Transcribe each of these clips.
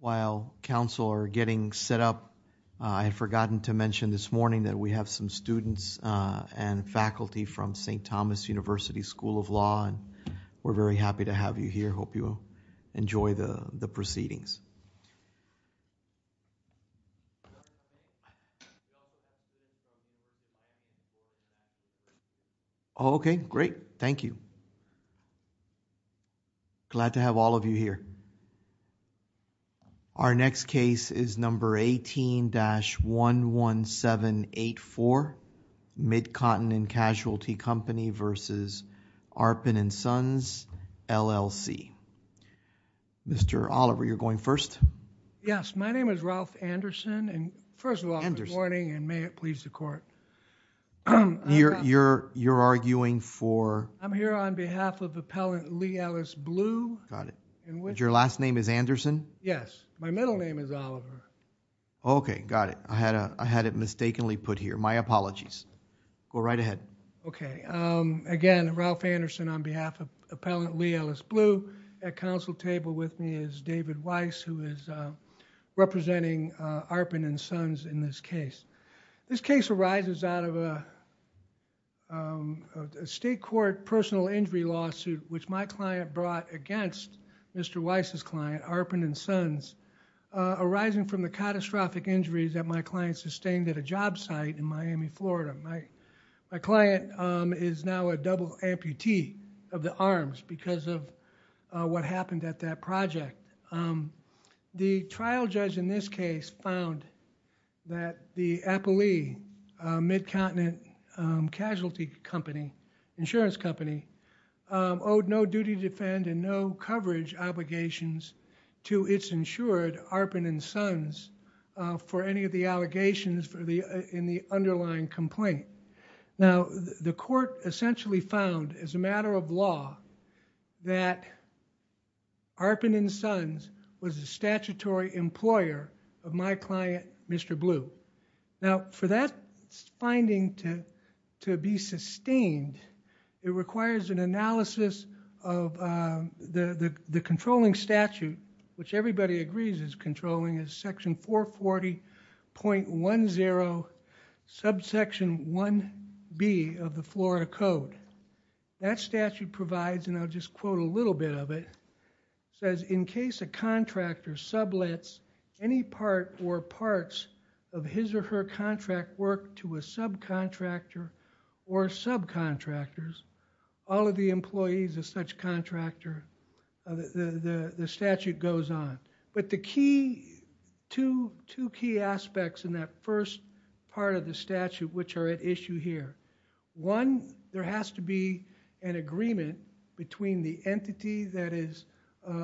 While council are getting set up, I had forgotten to mention this morning that we have some students and faculty from St. Thomas University School of Law and we're very happy to have you here, hope you enjoy the proceedings. Okay, great, thank you. Glad to have all of you here. Our next case is number 18-11784, Mid-Continent Casualty Company v. Arpen & Sons, LLC. Mr. Oliver, you're going first? Yes, my name is Ralph Anderson and first of all, good morning and may it please the court. You're arguing for? I'm here on behalf of Appellant Lee Ellis Blue. Got it. Your last name is Anderson? Yes, my middle name is Oliver. Okay, got it. I had it mistakenly put here, my apologies. Go right ahead. Okay, again, Ralph Anderson on behalf of Appellant Lee Ellis Blue. At council table with me is David Weiss, who is representing Arpen & Sons in this case. This case arises out of a state court personal injury lawsuit which my client brought against Mr. Weiss' client, Arpen & Sons, arising from the catastrophic injuries that my client sustained at a job site in Miami, Florida. My client is now a double amputee of the arms because of what happened at that project. The trial judge in this case found that the Appellant Lee, Mid-Continent Casualty Company, insurance company, owed no duty to defend and no coverage obligations to its insured, Arpen & Sons, for any of the allegations in the underlying complaint. Now, the court essentially found as a matter of law that Arpen & Sons was a statutory employer of my client, Mr. Blue. Now, for that finding to be sustained, it requires an analysis of the controlling statute, which everybody agrees is controlling, is section 440.10, subsection 1B of the Florida Code. That statute provides, and I'll just quote a little bit of it, says, in case a contractor sublets any part or parts of his or her contract work to a subcontractor or subcontractors, all of the employees of such contractor, the statute goes on. But the key, two key aspects in that first part of the statute which are at issue here. One, there has to be an agreement between the entity that is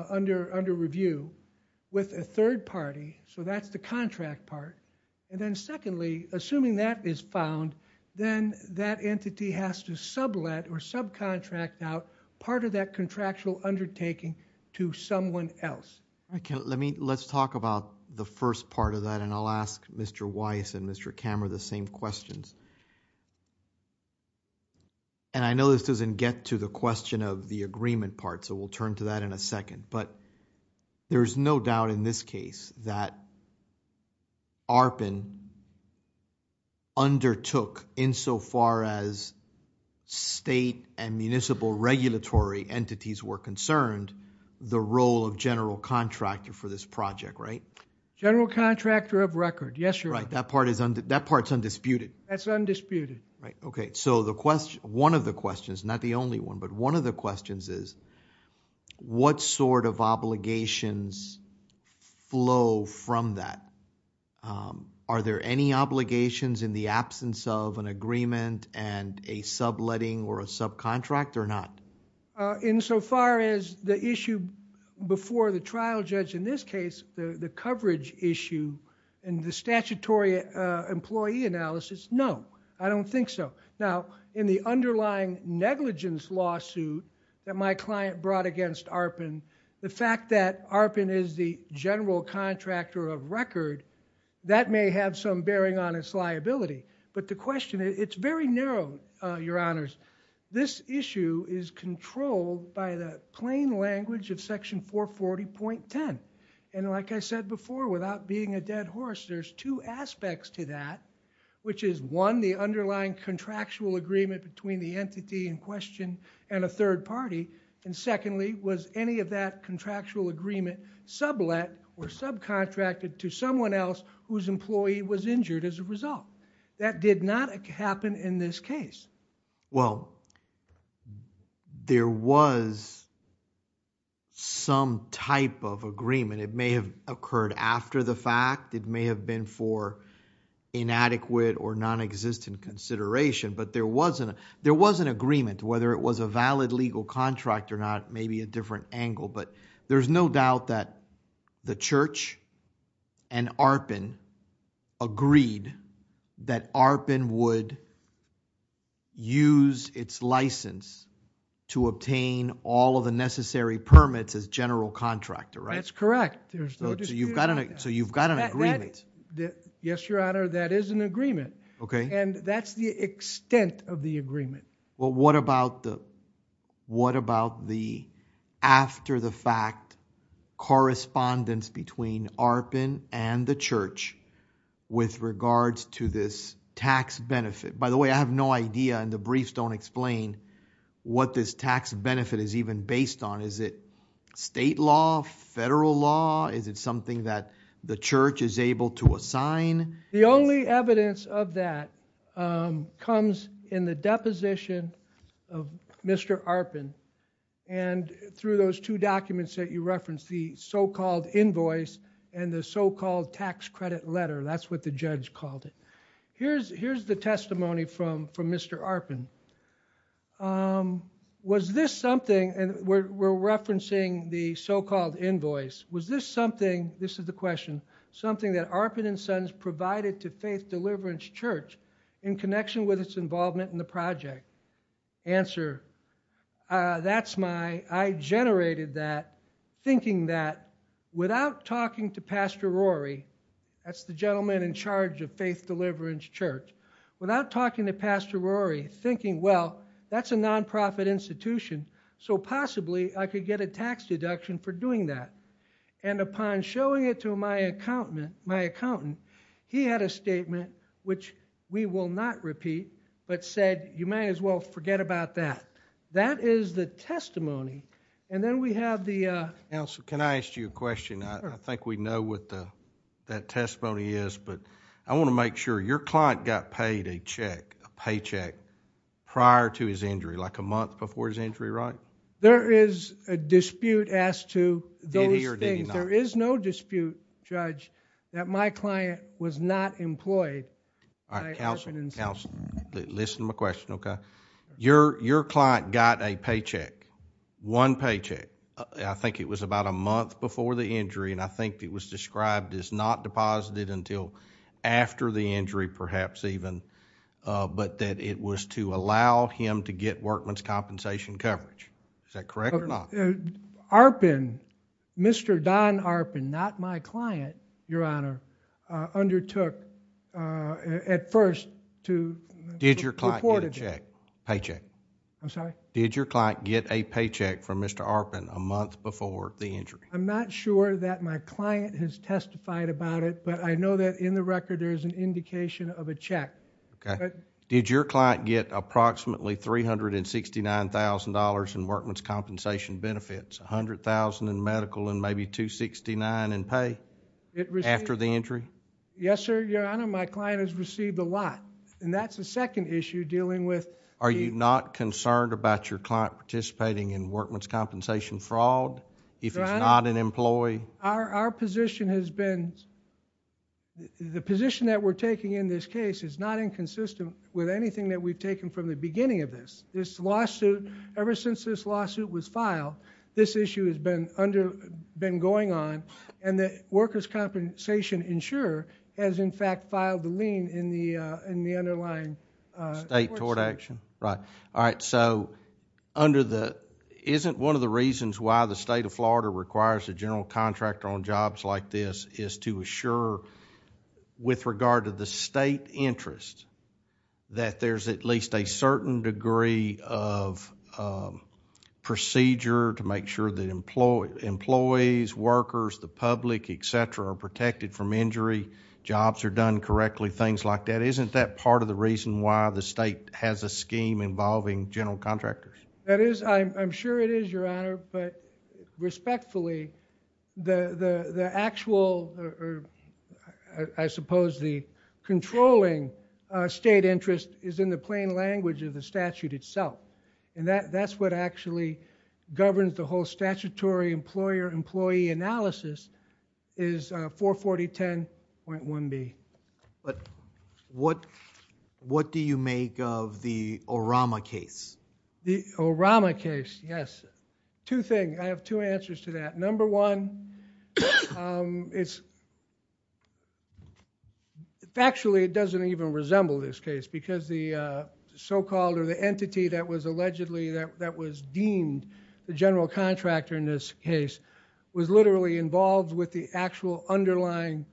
under review with a third party, so that's the contract part. And then secondly, assuming that is found, then that entity has to sublet or subcontract out part of that contractual undertaking to someone else. Okay, let me, let's talk about the first part of that and I'll ask Mr. Weiss and Mr. Kammerer the same questions. And I know this doesn't get to the question of the agreement part, so we'll turn to that in a second. But there's no doubt in this case that Arpen undertook, insofar as state and municipal regulatory entities were concerned, the role of general contractor for this project, right? General contractor of record, yes, sir. Right, that part is, that part's undisputed. That's undisputed. Right, okay, so the question, one of the questions, not the only one, but one of the questions is, what sort of obligations flow from that? Are there any obligations in the absence of an agreement and a subletting or a subcontract or not? Insofar as the issue before the trial judge in this case, the coverage issue and the statutory employee analysis, no, I don't think so. Now, in the underlying negligence lawsuit that my client brought against Arpen, the fact that Arpen is the general contractor of record, that may have some bearing on its liability, but the question, it's very narrow, your honors. This issue is controlled by the plain language of section 440.10. And like I said before, without being a dead horse, there's two aspects to that, which is one, the underlying contractual agreement between the entity in question and a third party, and secondly, was any of that contractual agreement sublet or injured as a result? That did not happen in this case. Well, there was some type of agreement. It may have occurred after the fact, it may have been for inadequate or nonexistent consideration, but there was an agreement, whether it was a valid legal contract or not, maybe a different that Arpen would use its license to obtain all of the necessary permits as general contractor, right? That's correct. So you've got an agreement. Yes, your honor, that is an agreement. Okay. And that's the extent of the agreement. Well, what about the after the fact correspondence between Arpen and the church with regards to this tax benefit? By the way, I have no idea and the briefs don't explain what this tax benefit is even based on. Is it state law, federal law? Is it something that the church is able to assign? The only evidence of that comes in the deposition of Mr. Arpen and through those two documents that you referenced, the so-called invoice and the so-called tax credit letter. That's what the judge called it. Here's the testimony from Mr. Arpen. Was this something, and we're referencing the so-called invoice, was this something, this is the question, something that Arpen and Sons provided to Faith Deliverance Church in connection with its involvement in the project? Answer, that's my, I generated that thinking that without talking to Pastor Rory, that's the gentleman in charge of Faith Deliverance Church, without talking to Pastor Rory, thinking, well, that's a non-profit institution, so possibly I could get a tax deduction for doing that. And upon showing it to my accountant, he had a statement which we will not repeat, but said, you may as well forget about that. That is the testimony. And then we have the... Counsel, can I ask you a question? I think we know what that testimony is, but I want to make sure. Your client got paid a check, a paycheck, prior to his injury, like a month before his injury, right? There is a dispute as to those things. There is no dispute, Judge, that my client was not employed by Arpen and Sons. Counsel, listen to my question, okay? Your client got a paycheck, one paycheck. I think it was about a month before the injury, and I think it was described as not deposited until after the injury, perhaps even, but that it was to allow him to get workman's compensation coverage. Is that correct or not? Arpen, Mr. Don Arpen, not my client, Your Honor, undertook at first to... Did your client get a check, paycheck? I'm sorry? Did your client get a paycheck from Mr. Arpen a month before the injury? I'm not sure that my client has testified about it, but I know that in the record, there is an indication of a check. Did your client get approximately $369,000 in workman's compensation benefits, $100,000 in medical and maybe $269,000 in pay after the injury? Yes, sir, Your Honor. My client has received a lot, and that's the second issue dealing with... Are you not concerned about your client participating in workman's compensation fraud if he's not an employee? Our position has been... the position that we're taking in this case is not inconsistent with anything that we've taken from the beginning of this. This lawsuit, ever since this lawsuit was filed, this issue has been going on, and the workers' compensation insurer has, in fact, filed the lien in the underlying... State tort action, right. All right, so under the... isn't one of the reasons why the State of Florida requires a general contractor on jobs like this is to assure, with regard to the State interest, that there's at least a certain degree of procedure to make sure that employees, workers, the public, et cetera, are protected from injury, jobs are done correctly, things like that. Isn't that part of the reason why the State has a scheme involving general contractors? That is, I'm sure it is, Your Honor, but respectfully, the actual, I suppose, the controlling State interest is in the plain language of the statute itself, and that's what actually governs the whole statutory employer-employee analysis is 44010.1b. But what do you make of the Orama case? Orama case, yes. Two things. I have two answers to that. Number one, factually, it doesn't even resemble this case because the so-called, or the entity that was allegedly, that was deemed the general contractor in this case was literally involved with the actual underlying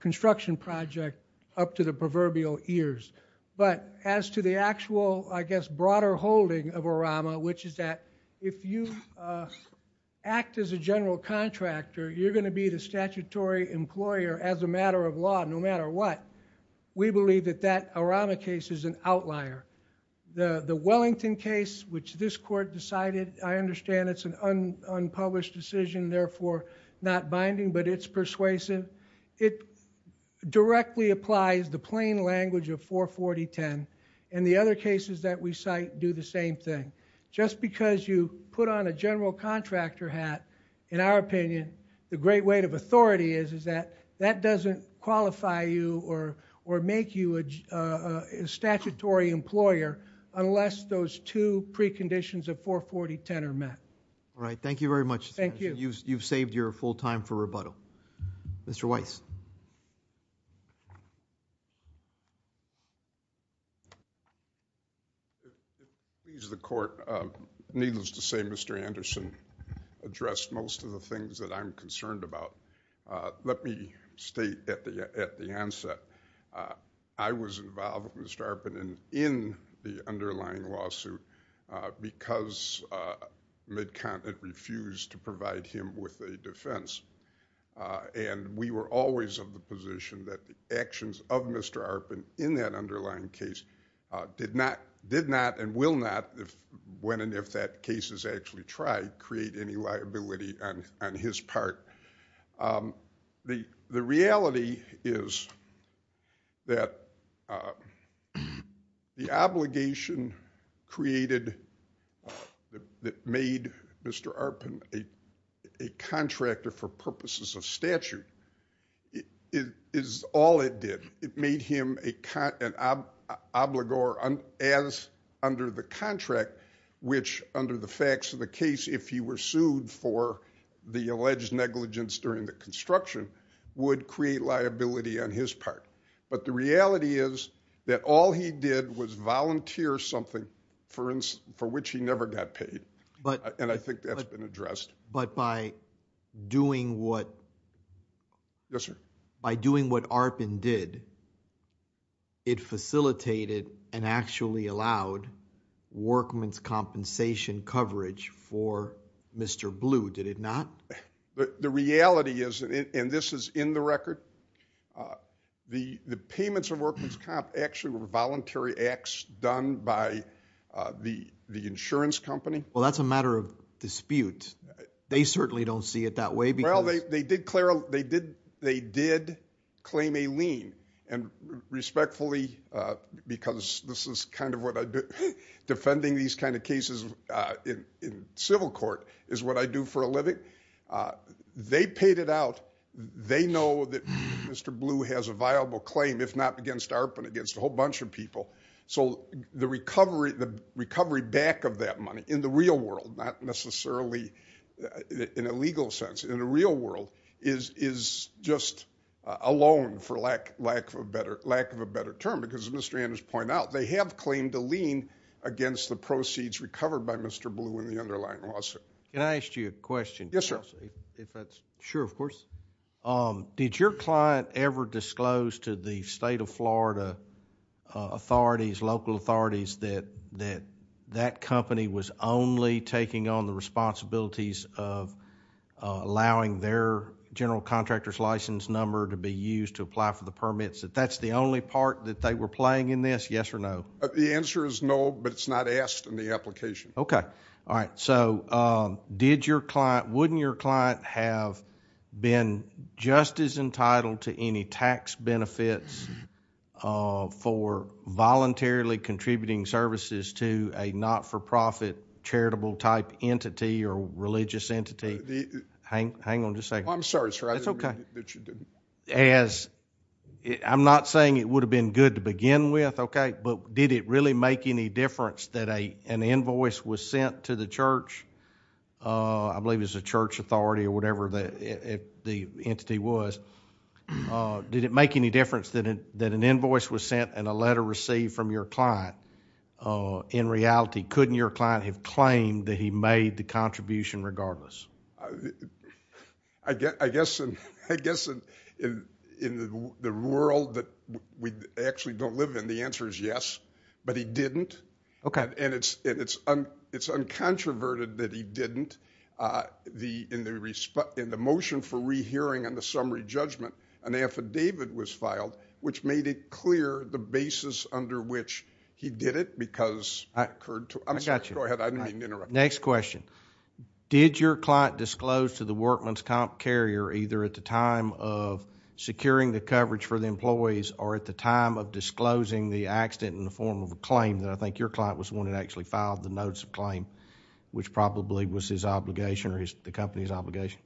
construction project up to the proverbial years. But as to the actual, I guess, broader holding of Orama, which is that if you act as a general contractor, you're going to be the statutory employer as a matter of law, no matter what. We believe that that Orama case is an outlier. The Wellington case, which this court decided, I understand it's an unpublished decision, therefore not binding, but it's persuasive. It directly applies the plain language of 44010. And the other cases that we cite do the same thing. Just because you put on a general contractor hat, in our opinion, the great weight of authority is that that doesn't qualify you or make you a statutory employer unless those two preconditions of 44010 are met. All right. Thank you very much. Thank you. You've saved your full time for rebuttal. Mr. Weiss. If I could please the court. Needless to say, Mr. Anderson addressed most of the things that I'm concerned about. Let me state at the onset, I was involved with Mr. Arpin in the underlying lawsuit because MidContinent refused to provide him with a defense. And we were always of the position that the actions of Mr. Arpin in that underlying case did not and will not, when and if that case is actually tried, create any liability on his part. The reality is that the obligation created that made Mr. Arpin a contractor for purposes of statute is all it did. It made him an obligor as under the contract, which under the facts of the case, if he were sued for the alleged negligence during the construction, would create liability on his part. But the reality is that all he did was volunteer something for which he never got paid. And I think that's been addressed. But by doing what Arpin did, it facilitated and actually allowed workman's compensation coverage for Mr. Blue, did it not? The reality is, and this is in the record, the payments of workman's comp actually were voluntary acts done by the insurance company. Well, that's a matter of dispute. They certainly don't see it that way. Well, they did claim a lien and respectfully, because this is kind of what I do, defending these kinds of cases in civil court is what I do for a living. They paid it out. They know that Mr. Blue has a viable claim, if not against Arpin, against a whole bunch of people. So the recovery back of that money in the real world, not necessarily in a legal sense, in the real world, is just a loan, for lack of a better term. Because as Mr. Anders pointed out, they have claimed a lien against the proceeds recovered by Mr. Blue in the underlying lawsuit. Can I ask you a question? Yes, sir. Sure, of course. Did your client ever disclose to the state of Florida authorities, local authorities, that that company was only taking on the responsibilities of allowing their general contractor's license number to be used to apply for the permits? That that's the only part that they were playing in this, yes or no? The answer is no, but it's not asked in the application. Okay. All right. Did your client, wouldn't your client have been just as entitled to any tax benefits for voluntarily contributing services to a not-for-profit charitable type entity or religious entity? Hang on just a second. I'm sorry, sir. It's okay. I'm not saying it would have been good to begin with, okay, but did it really make any that an invoice was sent to the church? I believe it was a church authority or whatever the entity was. Did it make any difference that an invoice was sent and a letter received from your client? In reality, couldn't your client have claimed that he made the contribution regardless? I guess in the world that we actually don't live in, the answer is yes, but he didn't. And it's uncontroverted that he didn't. In the motion for rehearing and the summary judgment, an affidavit was filed which made it clear the basis under which he did it because that occurred to him. I'm sorry, go ahead. I didn't mean to interrupt. Next question. Did your client disclose to the workman's comp carrier either at the time of securing the coverage for the employees or at the time of disclosing the accident in the form of actually filed the notice of claim which probably was his obligation or the company's obligation?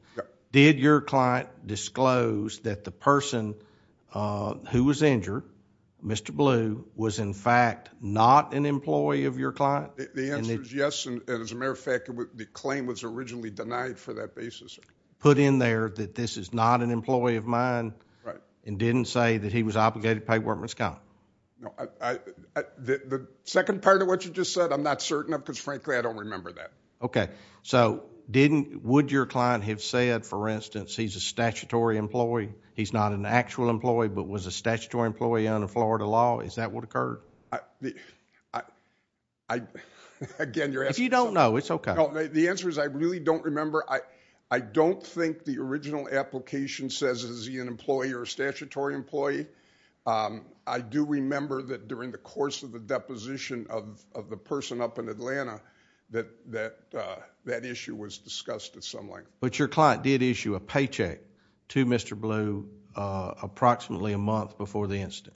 Did your client disclose that the person who was injured, Mr. Blue, was in fact not an employee of your client? The answer is yes, and as a matter of fact, the claim was originally denied for that basis. Put in there that this is not an employee of mine and didn't say that he was obligated to pay workman's comp? No, the second part of what you just said I'm not certain of because frankly I don't remember that. Okay, so would your client have said, for instance, he's a statutory employee, he's not an actual employee but was a statutory employee under Florida law, is that what occurred? Again, you're asking... If you don't know, it's okay. The answer is I really don't remember. I don't think the original application says he's an employee or a statutory employee. I do remember that during the course of the deposition of the person up in Atlanta that issue was discussed at some length. But your client did issue a paycheck to Mr. Blue approximately a month before the incident?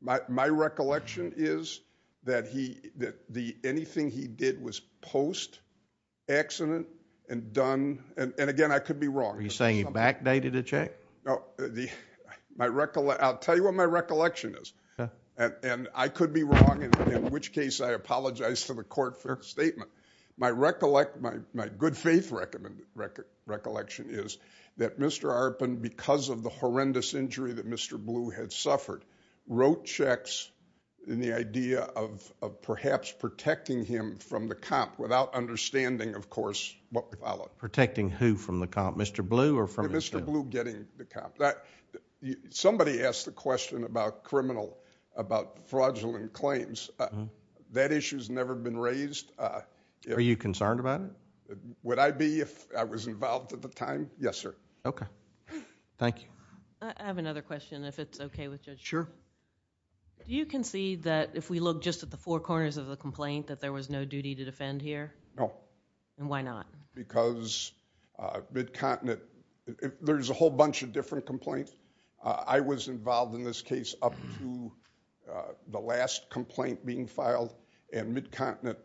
My recollection is that anything he did was post-accident and done... and again, I could be wrong. Are you saying he backdated a check? No, I'll tell you what my recollection is and I could be wrong in which case I apologize to the court for a statement. My good faith recollection is that Mr. Arpin, because of the horrendous injury that Mr. Blue had suffered, wrote checks in the idea of perhaps protecting him from the comp without understanding, of course, what followed. Protecting who from the comp, Mr. Blue or from... Mr. Blue getting the comp. Somebody asked the question about criminal, about fraudulent claims. That issue's never been raised. Are you concerned about it? Would I be if I was involved at the time? Yes, sir. Okay. Thank you. I have another question if it's okay with you. Sure. Do you concede that if we look just at the four corners of the complaint that there was no duty to defend here? No. And why not? Because Mid-Continent, there's a whole bunch of different complaints. I was involved in this case up to the last complaint being filed and Mid-Continent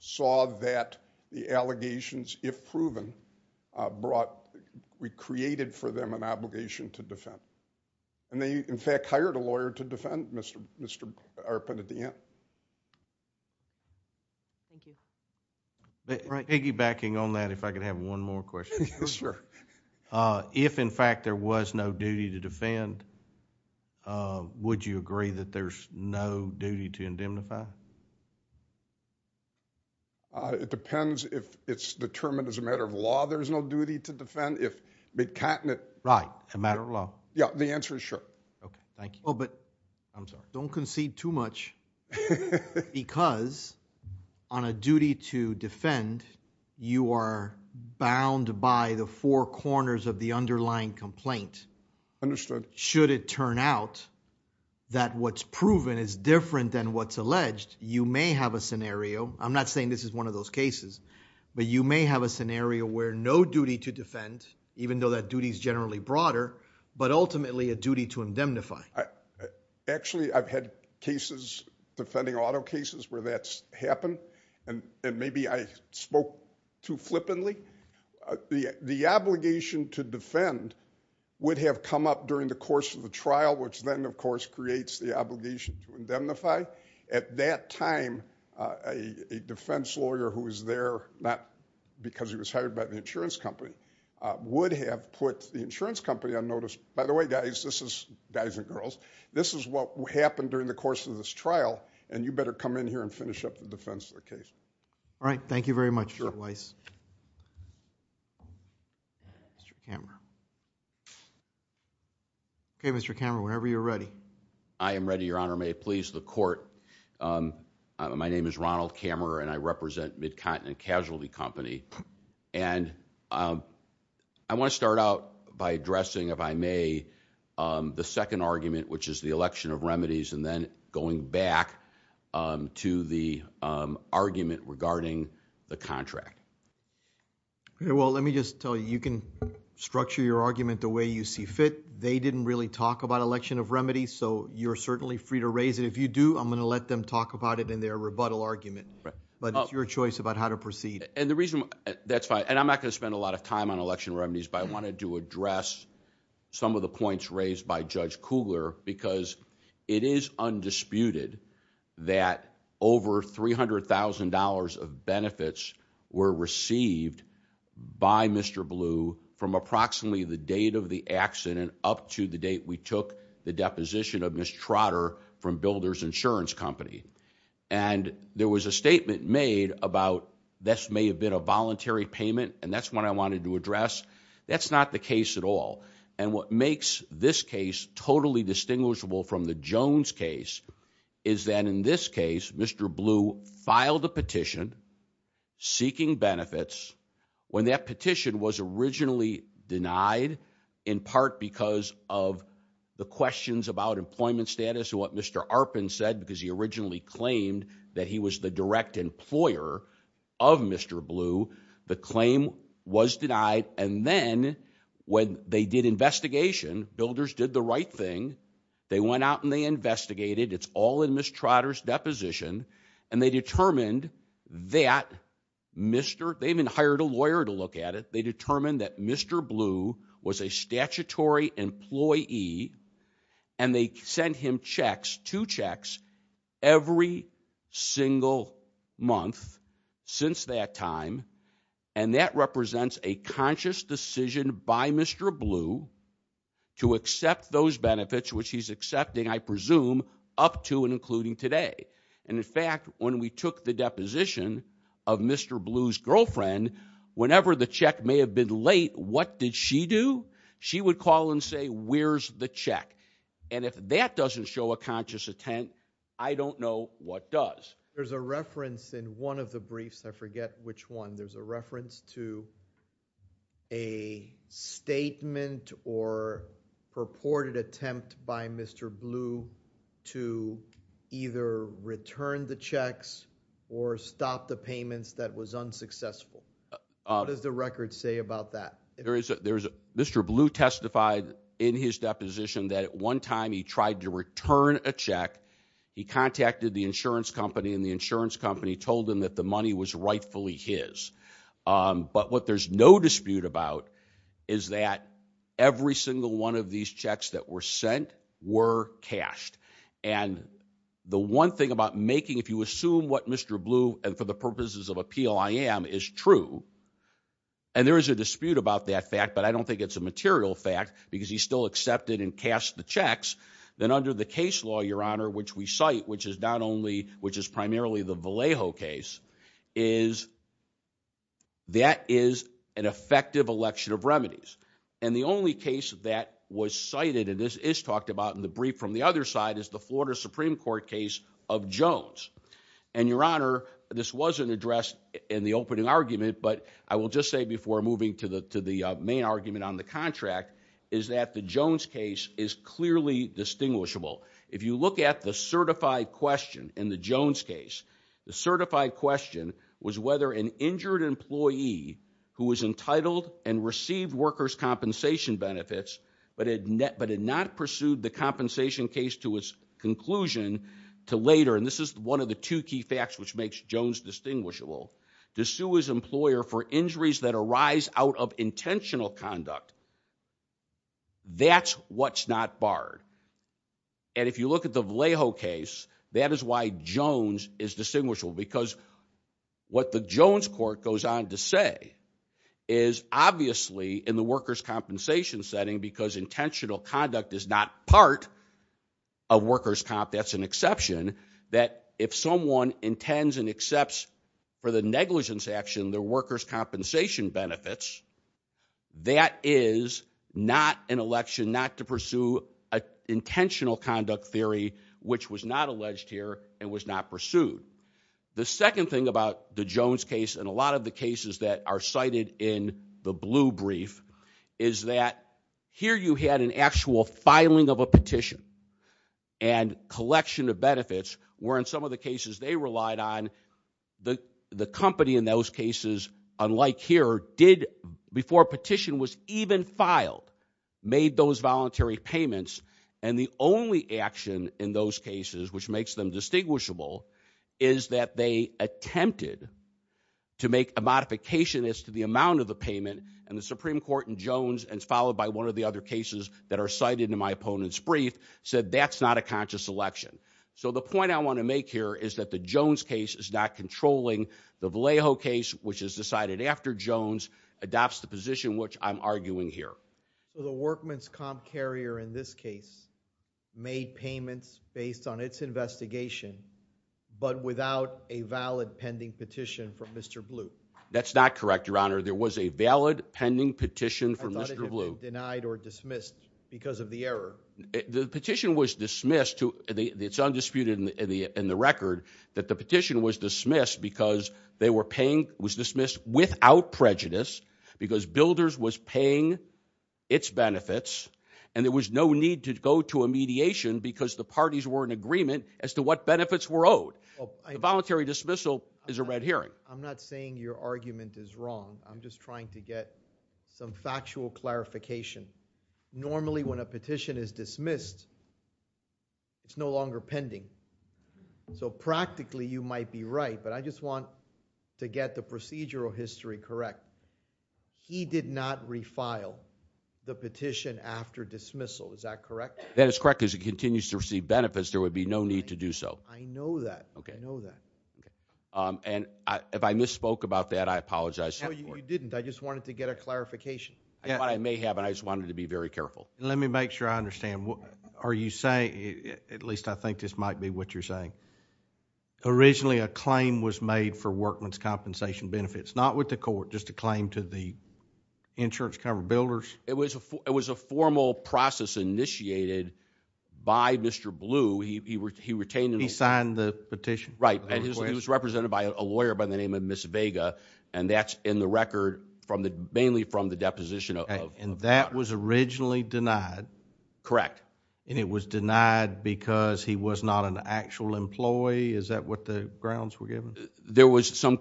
saw that the allegations, if proven, brought... recreated for them an obligation to defend. And they, in fact, hired a lawyer to defend Mr. Arpin at the end. Thank you. But piggybacking on that, if I could have one more question. Yes, sir. If, in fact, there was no duty to defend, would you agree that there's no duty to indemnify? It depends if it's determined as a matter of law there's no duty to defend. If Mid-Continent... Right, a matter of law. Yeah, the answer is sure. Okay, thank you. Oh, but... I'm sorry. Don't concede too much because, on a duty to defend, you are bound by the four corners of the underlying complaint. Understood. Should it turn out that what's proven is different than what's alleged, you may have a scenario. I'm not saying this is one of those cases, but you may have a scenario where no duty to defend, even though that duty is generally broader, but ultimately a duty to indemnify. Actually, I've had cases, defending auto cases, where that's happened. And maybe I spoke too flippantly. The obligation to defend would have come up during the course of the trial, which then, of course, creates the obligation to indemnify. At that time, a defense lawyer who was there, not because he was hired by the insurance company, would have put the insurance company on notice. By the way, guys, this is... guys and girls, this is what happened during the course of this trial, and you better come in here and finish up the defense of the case. All right. Thank you very much, Mr. Weiss. Mr. Kammerer. Okay, Mr. Kammerer, whenever you're ready. I am ready, Your Honor. May it please the Court. My name is Ronald Kammerer, and I represent Midcontinent Casualty Company. And I want to start out by addressing, if I may, the second argument, which is the election of remedies, and then going back to the argument regarding the contract. Well, let me just tell you, you can structure your argument the way you see fit. They didn't really talk about election of remedies, so you're certainly free to raise it. If you do, I'm going to let them talk about it in their rebuttal argument. But it's your choice about how to proceed. That's fine. And I'm not going to spend a lot of time on election remedies, but I wanted to address some of the points raised by Judge Kugler, because it is undisputed that over $300,000 of benefits were received by Mr. Blue from approximately the date of the accident up to the date we took the deposition of Ms. Trotter from Builders Insurance Company. And there was a statement made about this may have been a voluntary payment, and that's what I wanted to address. That's not the case at all. And what makes this case totally distinguishable from the Jones case is that in this case, Mr. Blue filed a petition seeking benefits when that petition was originally denied, in part because of the questions about employment status and what Mr. Arpin said, because he originally claimed that he was the direct employer of Mr. Blue. The claim was denied. And then when they did investigation, Builders did the right thing. They went out and they investigated. It's all in Ms. Trotter's deposition. And they determined that Mr. They even hired a lawyer to look at it. They determined that Mr. Blue was a statutory employee, and they sent him checks, two checks every single month since that time. And that represents a conscious decision by Mr. Blue to accept those benefits, which he's accepting, I presume, up to and including today. And in fact, when we took the deposition of Mr. Blue's girlfriend, whenever the check may have been late, what did she do? She would call and say, where's the check? And if that doesn't show a conscious attempt, I don't know what does. There's a reference in one of the briefs. I forget which one. There's a reference to a statement or purported attempt by Mr. Blue to either return the checks or stop the payments that was unsuccessful. What does the record say about that? Mr. Blue testified in his deposition that at one time he tried to return a check. He contacted the insurance company, and the insurance company told him that the money was rightfully his. But what there's no dispute about is that every single one of these checks that were sent were cashed. And the one thing about making, if you assume what Mr. Blue, and for the purposes of appeal, I am, is true. And there is a dispute about that fact, but I don't think it's a material fact because he still accepted and cast the checks. Then under the case law, Your Honor, which we cite, which is primarily the Vallejo case, that is an effective election of remedies. And the only case that was cited, and this is talked about in the brief from the other side, is the Florida Supreme Court case of Jones. And Your Honor, this wasn't addressed in the opening argument, but I will just say before moving to the main argument on the contract, is that the Jones case is clearly distinguishable. If you look at the certified question in the Jones case, the certified question was whether an injured employee who was entitled and received workers' compensation benefits, but had not pursued the compensation case to its conclusion, to later, and this is one of the two key facts which makes Jones distinguishable. To sue his employer for injuries that arise out of intentional conduct, that's what's not barred. And if you look at the Vallejo case, that is why Jones is distinguishable because what the Jones court goes on to say is obviously in the workers' compensation setting, because intentional conduct is not part of workers' comp, that's an exception, that if someone intends and accepts for the negligence action, the workers' compensation benefits, that is not an election, not to pursue an intentional conduct theory, which was not alleged here and was not pursued. The second thing about the Jones case, and a lot of the cases that are cited in the blue brief, is that here you had an actual filing of a petition and collection of benefits, where in some of the cases they relied on, the company in those cases, unlike here, did, before a petition was even filed, made those voluntary payments, and the only action in those cases which makes them distinguishable is that they attempted to make a modification as to the amount of the payment, and the Supreme Court in Jones, and it's followed by one of the other cases that are cited in my opponent's brief, said that's not a conscious election. So the point I want to make here is that the Jones case is not controlling. The Vallejo case, which is decided after Jones, adopts the position which I'm arguing here. So the workman's comp carrier in this case made payments based on its investigation, but without a valid pending petition from Mr. Blue? That's not correct, your honor. There was a valid pending petition from Mr. Blue. Denied or dismissed because of the error. The petition was dismissed, it's undisputed in the record, that the petition was dismissed because they were paying, was dismissed without prejudice, because Builders was paying its benefits, and there was no need to go to a mediation because the parties were in agreement as to what benefits were owed. The voluntary dismissal is a red herring. I'm not saying your argument is wrong. I'm just trying to get some factual clarification. Normally when a petition is dismissed, it's no longer pending. So practically you might be right, but I just want to get the procedural history correct. He did not refile the petition after dismissal. Is that correct? That is correct because he continues to receive benefits. There would be no need to do so. I know that, I know that. And if I misspoke about that, I apologize. No, you didn't. I just wanted to get a clarification. What I may have, and I just wanted to be very careful. Let me make sure I understand. Are you saying, at least I think this might be what you're saying, originally a claim was made for Workman's Compensation benefits, not with the court, just a claim to the insurance cover Builders? It was a formal process initiated by Mr. Blue. He retained the petition. He signed the petition? Right, and he was represented by a lawyer by the name of Ms. Vega, and that's in the record from the, mainly from the deposition. And that was originally denied? Correct. And it was denied because he was not an actual employee? Is that what the grounds were given? There was some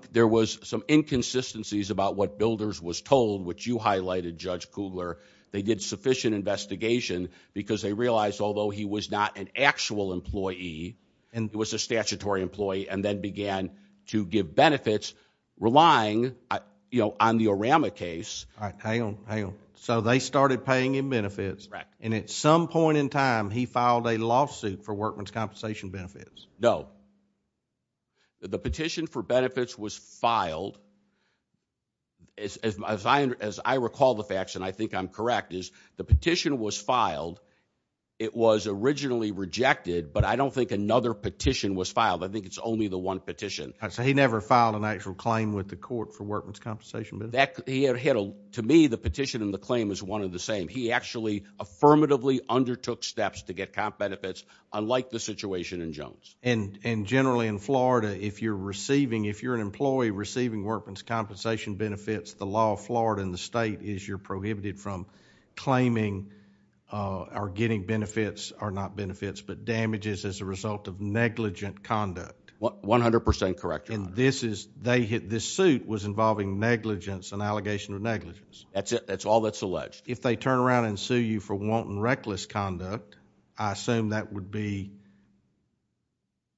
inconsistencies about what Builders was told, which you highlighted, Judge Kugler. They did sufficient investigation because they realized, although he was not an actual employee, and he was a statutory employee, and then began to give benefits relying on the Orama case. All right, hang on, hang on. So they started paying him benefits? Correct. And at some point in time, he filed a lawsuit for Workman's Compensation benefits? No, the petition for benefits was filed. As I recall the facts, and I think I'm correct, is the petition was filed. It was originally rejected, but I don't think another petition was filed. I think it's only the one petition. All right, so he never filed an actual claim with the court for Workman's Compensation benefits? To me, the petition and the claim is one and the same. He actually affirmatively undertook steps to get comp benefits, unlike the situation in Jones. And generally in Florida, if you're receiving, if you're an employee receiving Workman's Compensation benefits, the law of Florida and the state is you're prohibited from claiming or getting benefits, or not benefits, but damages as a result of negligent conduct. 100% correct. And this is, they hit, this suit was involving negligence and allegation of negligence. That's it, that's all that's alleged. If they turn around and sue you for wanton reckless conduct, I assume that would be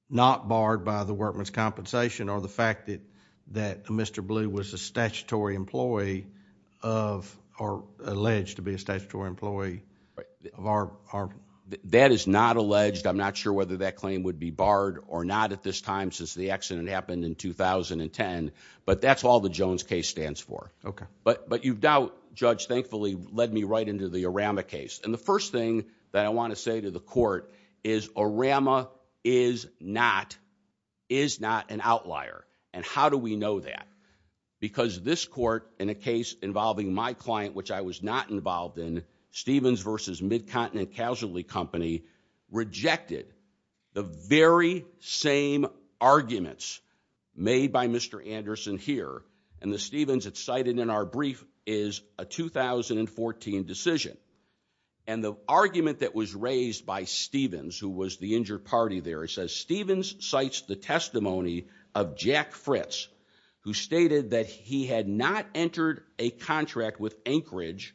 not barred by the Workman's Compensation or the fact that Mr. Blue was a statutory employee of, or alleged to be a statutory employee of our... That is not alleged. I'm not sure whether that claim would be barred or not at this time since the accident happened in 2010, but that's all the Jones case stands for. Okay. But you've doubt, Judge, thankfully led me right into the Arama case. And the first thing that I want to say to the court is Arama is not, is not an outlier. And how do we know that? Because this court, in a case involving my client, which I was not involved in, Stevens versus Midcontinent Casualty Company rejected the very same arguments made by Mr. Anderson here. And the Stevens that's cited in our brief is a 2014 decision. And the argument that was raised by Stevens, who was the injured party there, it says, Stevens cites the testimony of Jack Fritz, who stated that he had not entered a contract with Anchorage,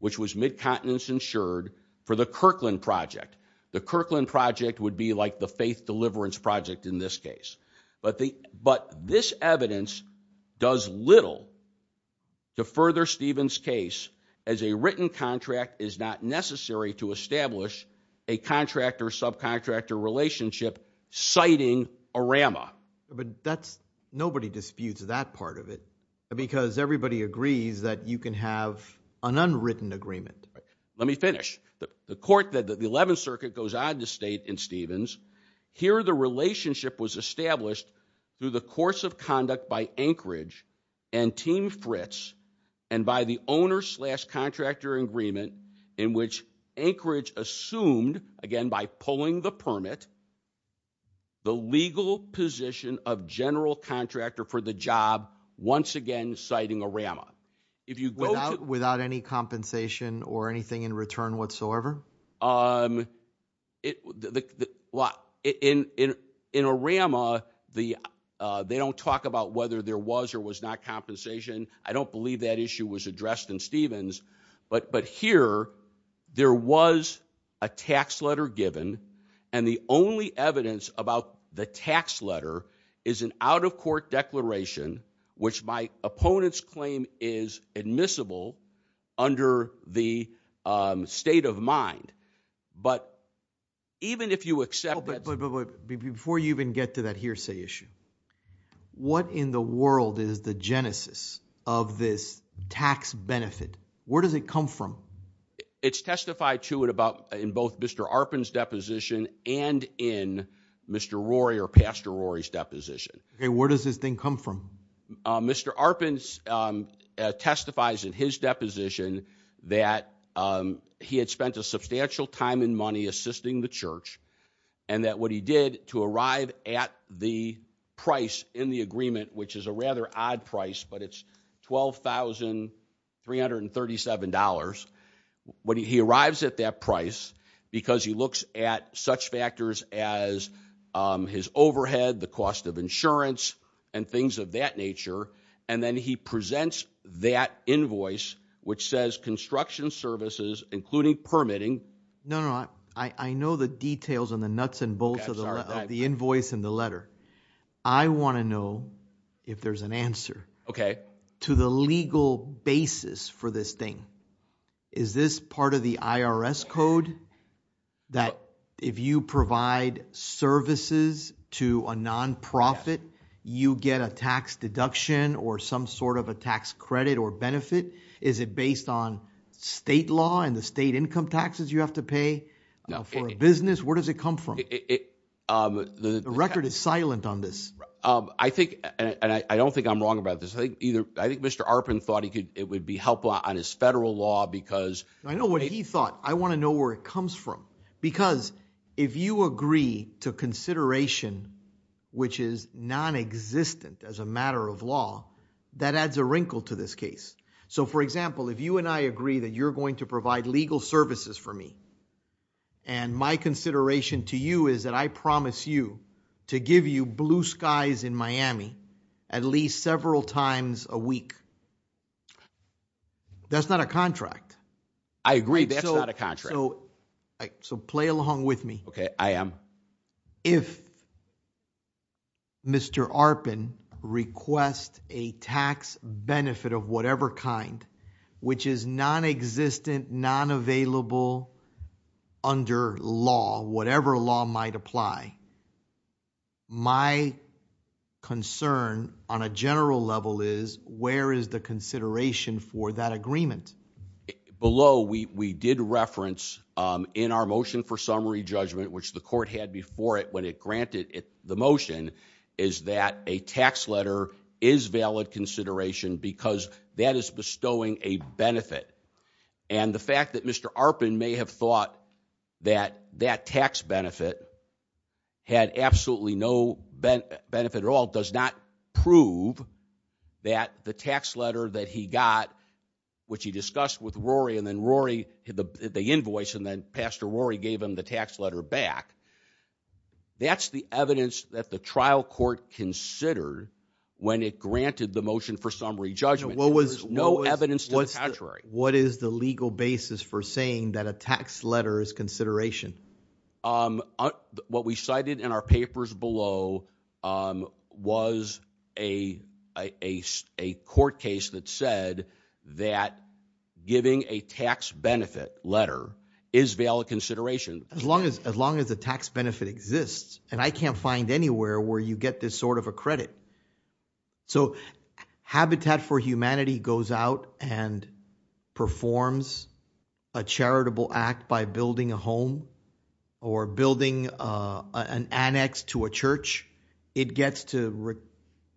which was Midcontinence insured, for the Kirkland project. The Kirkland project would be like the Faith Deliverance Project in this case. But this evidence does little to further Stevens' case as a written contract is not necessary to establish a contractor-subcontractor relationship citing Arama. But that's, nobody disputes that part of it because everybody agrees that you can have an unwritten agreement. Let me finish. The court that the 11th Circuit goes on to state in Stevens, here the relationship was established through the course of conduct by Anchorage and Team Fritz and by the owner-slash-contractor agreement in which Anchorage assumed, again by pulling the permit, the legal position of general contractor for the job once again citing Arama. Without any compensation or anything in return whatsoever? In Arama, they don't talk about whether there was or was not compensation. I don't believe that issue was addressed in Stevens. But here, there was a tax letter given and the only evidence about the tax letter is an out-of-court declaration which my opponent's claim is admissible under the state of mind. But even if you accept that... But before you even get to that hearsay issue, what in the world is the genesis of this tax benefit? Where does it come from? It's testified to it about in both Mr. Arpin's deposition and in Mr. Rory or Pastor Rory's deposition. Okay, where does this thing come from? Mr. Arpin testifies in his deposition that he had spent a substantial time and money assisting the church and that what he did to arrive at the price in the agreement, which is a rather odd price, but it's $12,337. When he arrives at that price, because he looks at such factors as his overhead, the cost of insurance and things of that nature, and then he presents that invoice, which says construction services, including permitting... No, no, I know the details and the nuts and bolts of the invoice and the letter. I want to know if there's an answer to the legal basis for this thing. Is this part of the IRS code that if you provide services to a non-profit, you get a tax deduction or some sort of a tax credit or benefit? Is it based on state law and the state income taxes you have to pay for a business? Where does it come from? The record is silent on this. I think, and I don't think I'm wrong about this. I think Mr. Arpin thought it would be helpful on his federal law because... I know what he thought. I want to know where it comes from, because if you agree to consideration, which is non-existent as a matter of law, that adds a wrinkle to this case. So, for example, if you and I agree that you're going to provide legal services for me, and my consideration to you is that I promise you to give you blue skies in Miami at least several times a week, that's not a contract. I agree, that's not a contract. So, play along with me. Okay, I am. If Mr. Arpin requests a tax benefit of whatever kind, which is non-existent, non-available under law, whatever law might apply, my concern on a general level is, where is the consideration for that agreement? Below, we did reference in our motion for summary judgment, which the court had before it when it granted the motion, is that a tax letter is valid consideration because that is bestowing a benefit. And the fact that Mr. Arpin may have thought that that tax benefit had absolutely no benefit at all does not prove that the tax letter that he got, which he discussed with Rory, and then Rory, the invoice, and then Pastor Rory gave him the tax letter back. That's the evidence that the trial court considered when it granted the motion for summary judgment. There was no evidence to the contrary. What is the legal basis for saying that a tax letter is consideration? What we cited in our papers below was a court case that said that giving a tax benefit letter is valid consideration. As long as the tax benefit exists, and I can't find anywhere where you get this sort of a credit. So Habitat for Humanity goes out and performs a charitable act by building a home or building an annex to a church, it gets to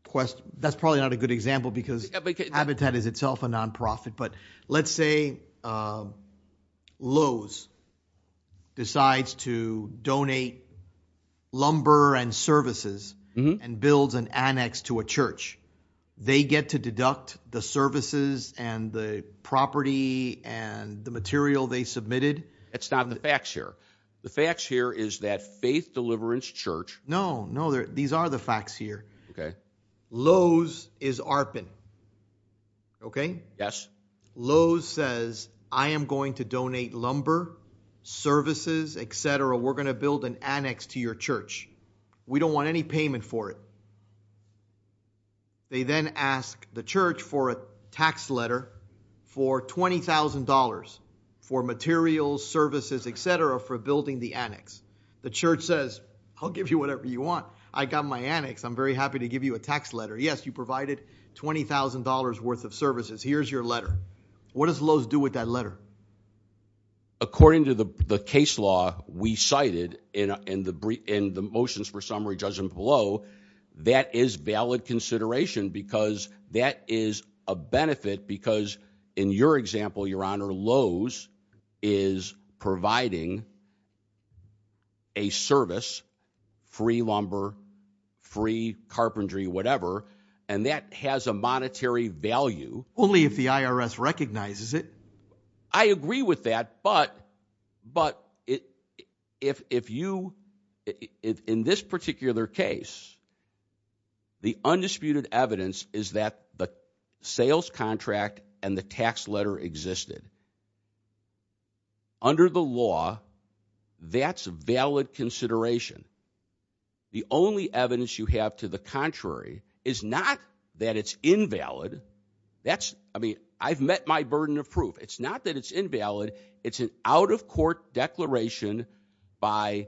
request, that's probably not a good example because Habitat is itself a nonprofit, but let's say Lowe's decides to donate lumber and services and builds an annex to a church. They get to deduct the services and the property and the material they submitted. It's not in the facts here. The facts here is that Faith Deliverance Church. No, no, these are the facts here. Lowe's is ARPAN, okay? Yes. Lowe's says, I am going to donate lumber, services, etc. We're going to build an annex to your church. We don't want any payment for it. They then ask the church for a tax letter for $20,000 for materials, services, etc. for building the annex. The church says, I'll give you whatever you want. I got my annex. I'm very happy to give you a tax letter. Yes, you provided $20,000 worth of services. Here's your letter. What does Lowe's do with that letter? According to the case law we cited in the motions for summary, Judge Impello, that is valid consideration because that is a benefit because in your example, Your Honor, Lowe's is providing a service, free lumber, free carpentry, whatever. And that has a monetary value. Only if the IRS recognizes it. I agree with that, but if you, in this particular case, the undisputed evidence is that the sales contract and the tax letter existed. Under the law, that's valid consideration. The only evidence you have to the contrary is not that it's invalid. That's, I mean, I've met my burden of proof. It's not that it's invalid. It's an out-of-court declaration by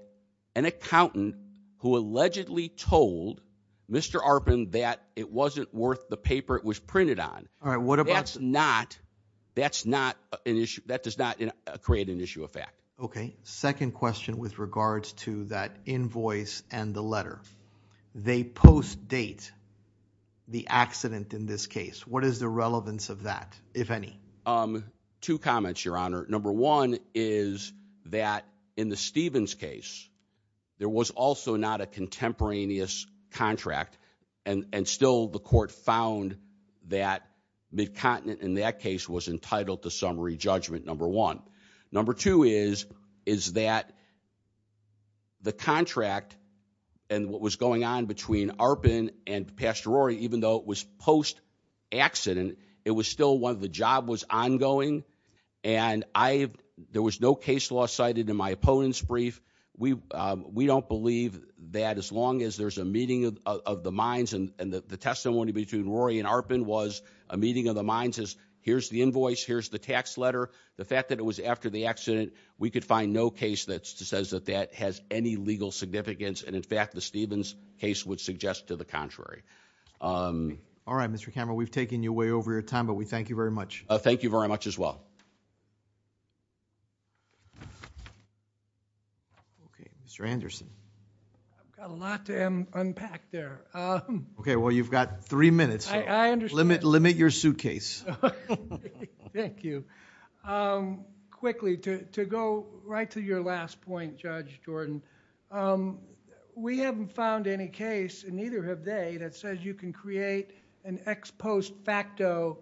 an accountant who allegedly told Mr. Arpin that it wasn't worth the paper it was printed on. All right, what about- That's not, that's not an issue. That does not create an issue of fact. Okay, second question with regards to that invoice and the letter. They post-date the accident in this case. What is the relevance of that, if any? Two comments, Your Honor. Number one is that in the Stevens case, there was also not a contemporaneous contract and still the court found that Mid-Continent in that case was entitled to summary judgment, number one. Number two is that the contract and what was going on between Arpin and Pastor Rory, even though it was post-accident, it was still one of the job was ongoing and there was no case law cited in my opponent's brief. We don't believe that as long as there's a meeting of the minds and the testimony between Rory and Arpin was a meeting of the minds as here's the invoice, here's the tax letter. The fact that it was after the accident, we could find no case that says that that has any legal significance and in fact, the Stevens case would suggest to the contrary. All right, Mr. Cameron, we've taken you way over your time, but we thank you very much. Thank you very much as well. Okay, Mr. Anderson. I've got a lot to unpack there. Okay, well, you've got three minutes. I understand. Limit your suitcase. Okay, thank you. Quickly, to go right to your last point, Judge Jordan, we haven't found any case and neither have they that says you can create an ex post facto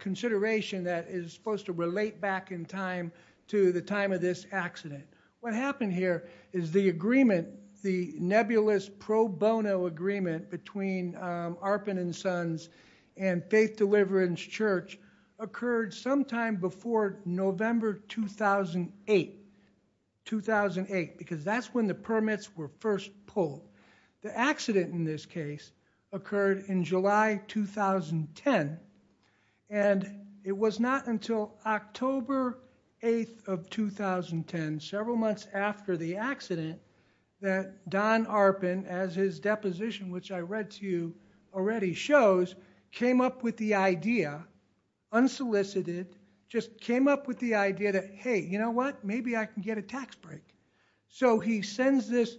consideration that is supposed to relate back in time to the time of this accident. What happened here is the agreement, the nebulous pro bono agreement between Arpin and Sons and Faith Deliverance Church occurred sometime before November 2008. 2008, because that's when the permits were first pulled. The accident in this case occurred in July 2010 and it was not until October 8th of 2010, several months after the accident, that Don Arpin, as his deposition which I read to you already shows, came up with the idea, unsolicited, just came up with the idea that, hey, you know what? Maybe I can get a tax break. So he sends this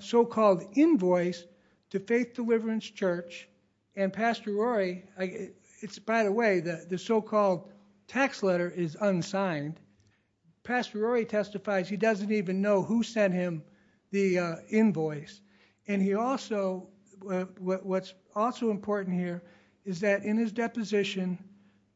so-called invoice to Faith Deliverance Church and Pastor Rory, it's by the way, the so-called tax letter is unsigned. Pastor Rory testifies he doesn't even know who sent him the invoice. And he also, what's also important here is that in his deposition,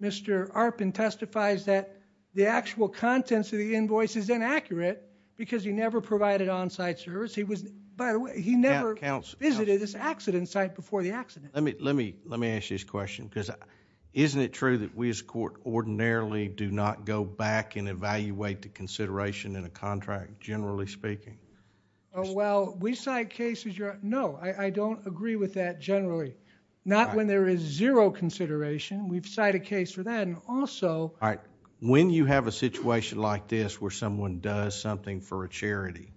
Mr. Arpin testifies that the actual contents of the invoice is inaccurate because he never provided on-site service. He was, by the way, he never visited this accident site before the accident. Let me ask you this question because isn't it true that we as a court ordinarily do not go back and evaluate the consideration in a contract, generally speaking? Oh, well, we cite cases. No, I don't agree with that generally. Not when there is zero consideration. We've cited a case for that and also... All right. When you have a situation like this where someone does something for a charity,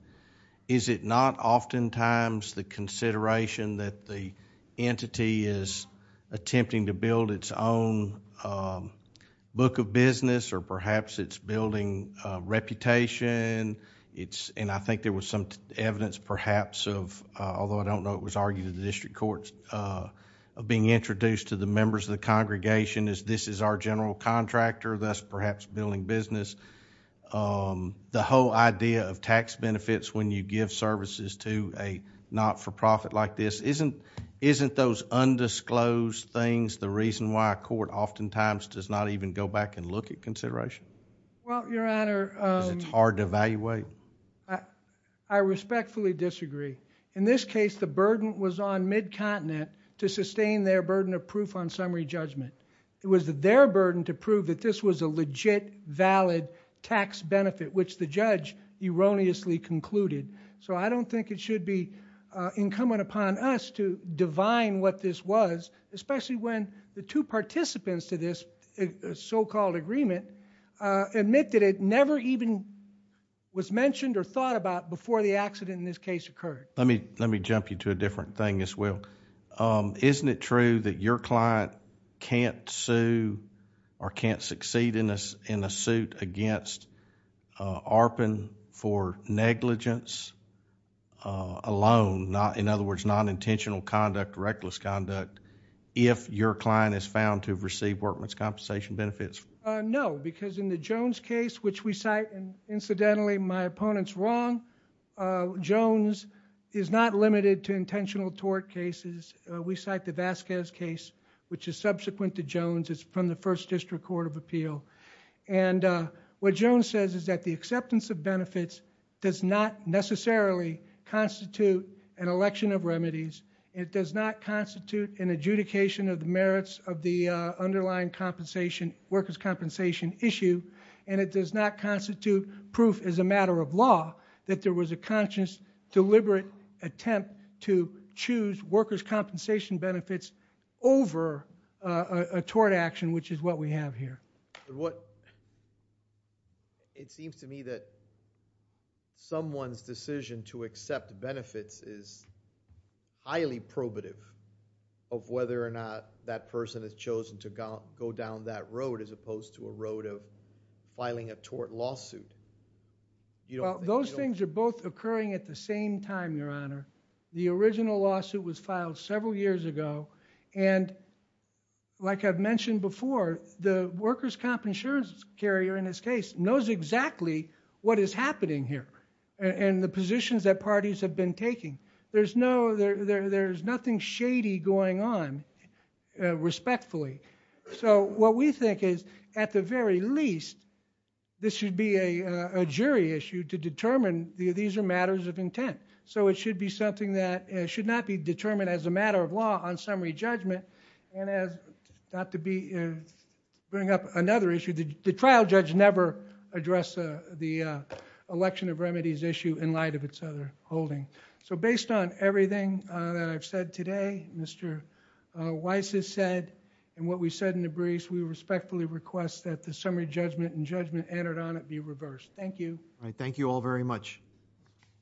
is it not oftentimes the consideration that the entity is attempting to build its own book of business or perhaps it's building reputation? And I think there was some evidence perhaps of, although I don't know if it was argued in the district courts, of being introduced to the members of the congregation as this is our general contractor, thus perhaps building business. The whole idea of tax benefits when you give services to a not-for-profit like this, isn't those undisclosed things the reason why a court oftentimes does not even go back and look at consideration? Well, Your Honor... Because it's hard to evaluate? I respectfully disagree. In this case, the burden was on MidContinent to sustain their burden of proof on summary judgment. It was their burden to prove that this was a legit, valid tax benefit which the judge erroneously concluded. So I don't think it should be incumbent upon us to divine what this was, especially when the two participants to this so-called agreement admit that it never even was mentioned or thought about before the accident in this case occurred. Let me jump you to a different thing as well. Isn't it true that your client can't sue or can't succeed in a suit against ARPN for negligence alone, in other words, non-intentional conduct, reckless conduct, if your client is found to have received workman's compensation benefits? No, because in the Jones case, which we cite, and incidentally my opponent's wrong, Jones is not limited to intentional tort cases. We cite the Vasquez case, which is subsequent to Jones. It's from the First District Court of Appeal. What Jones says is that the acceptance of benefits does not necessarily constitute an election of remedies. It does not constitute an adjudication of the merits of the underlying compensation, workers' compensation issue, and it does not constitute proof as a matter of law that there was a conscious, deliberate attempt to choose workers' compensation benefits over a tort action, which is what we have here. It seems to me that someone's decision to accept benefits is highly probative of whether or not that person has chosen to go down that road as opposed to a road of you know, those things are both occurring at the same time, Your Honor. The original lawsuit was filed several years ago, and like I've mentioned before, the workers' comp insurance carrier in this case knows exactly what is happening here and the positions that parties have been taking. There's no, there's nothing shady going on, respectfully. So what we think is at the very least, this should be a jury issue to determine these are matters of intent. So it should be something that should not be determined as a matter of law on summary judgment and as not to bring up another issue, the trial judge never addressed the election of remedies issue in light of its other holding. So based on everything that I've said today, Mr. Weiss has said, and what we said in the briefs, we respectfully request that the summary judgment and judgment entered on it be reversed. Thank you. All right. Thank you all very much.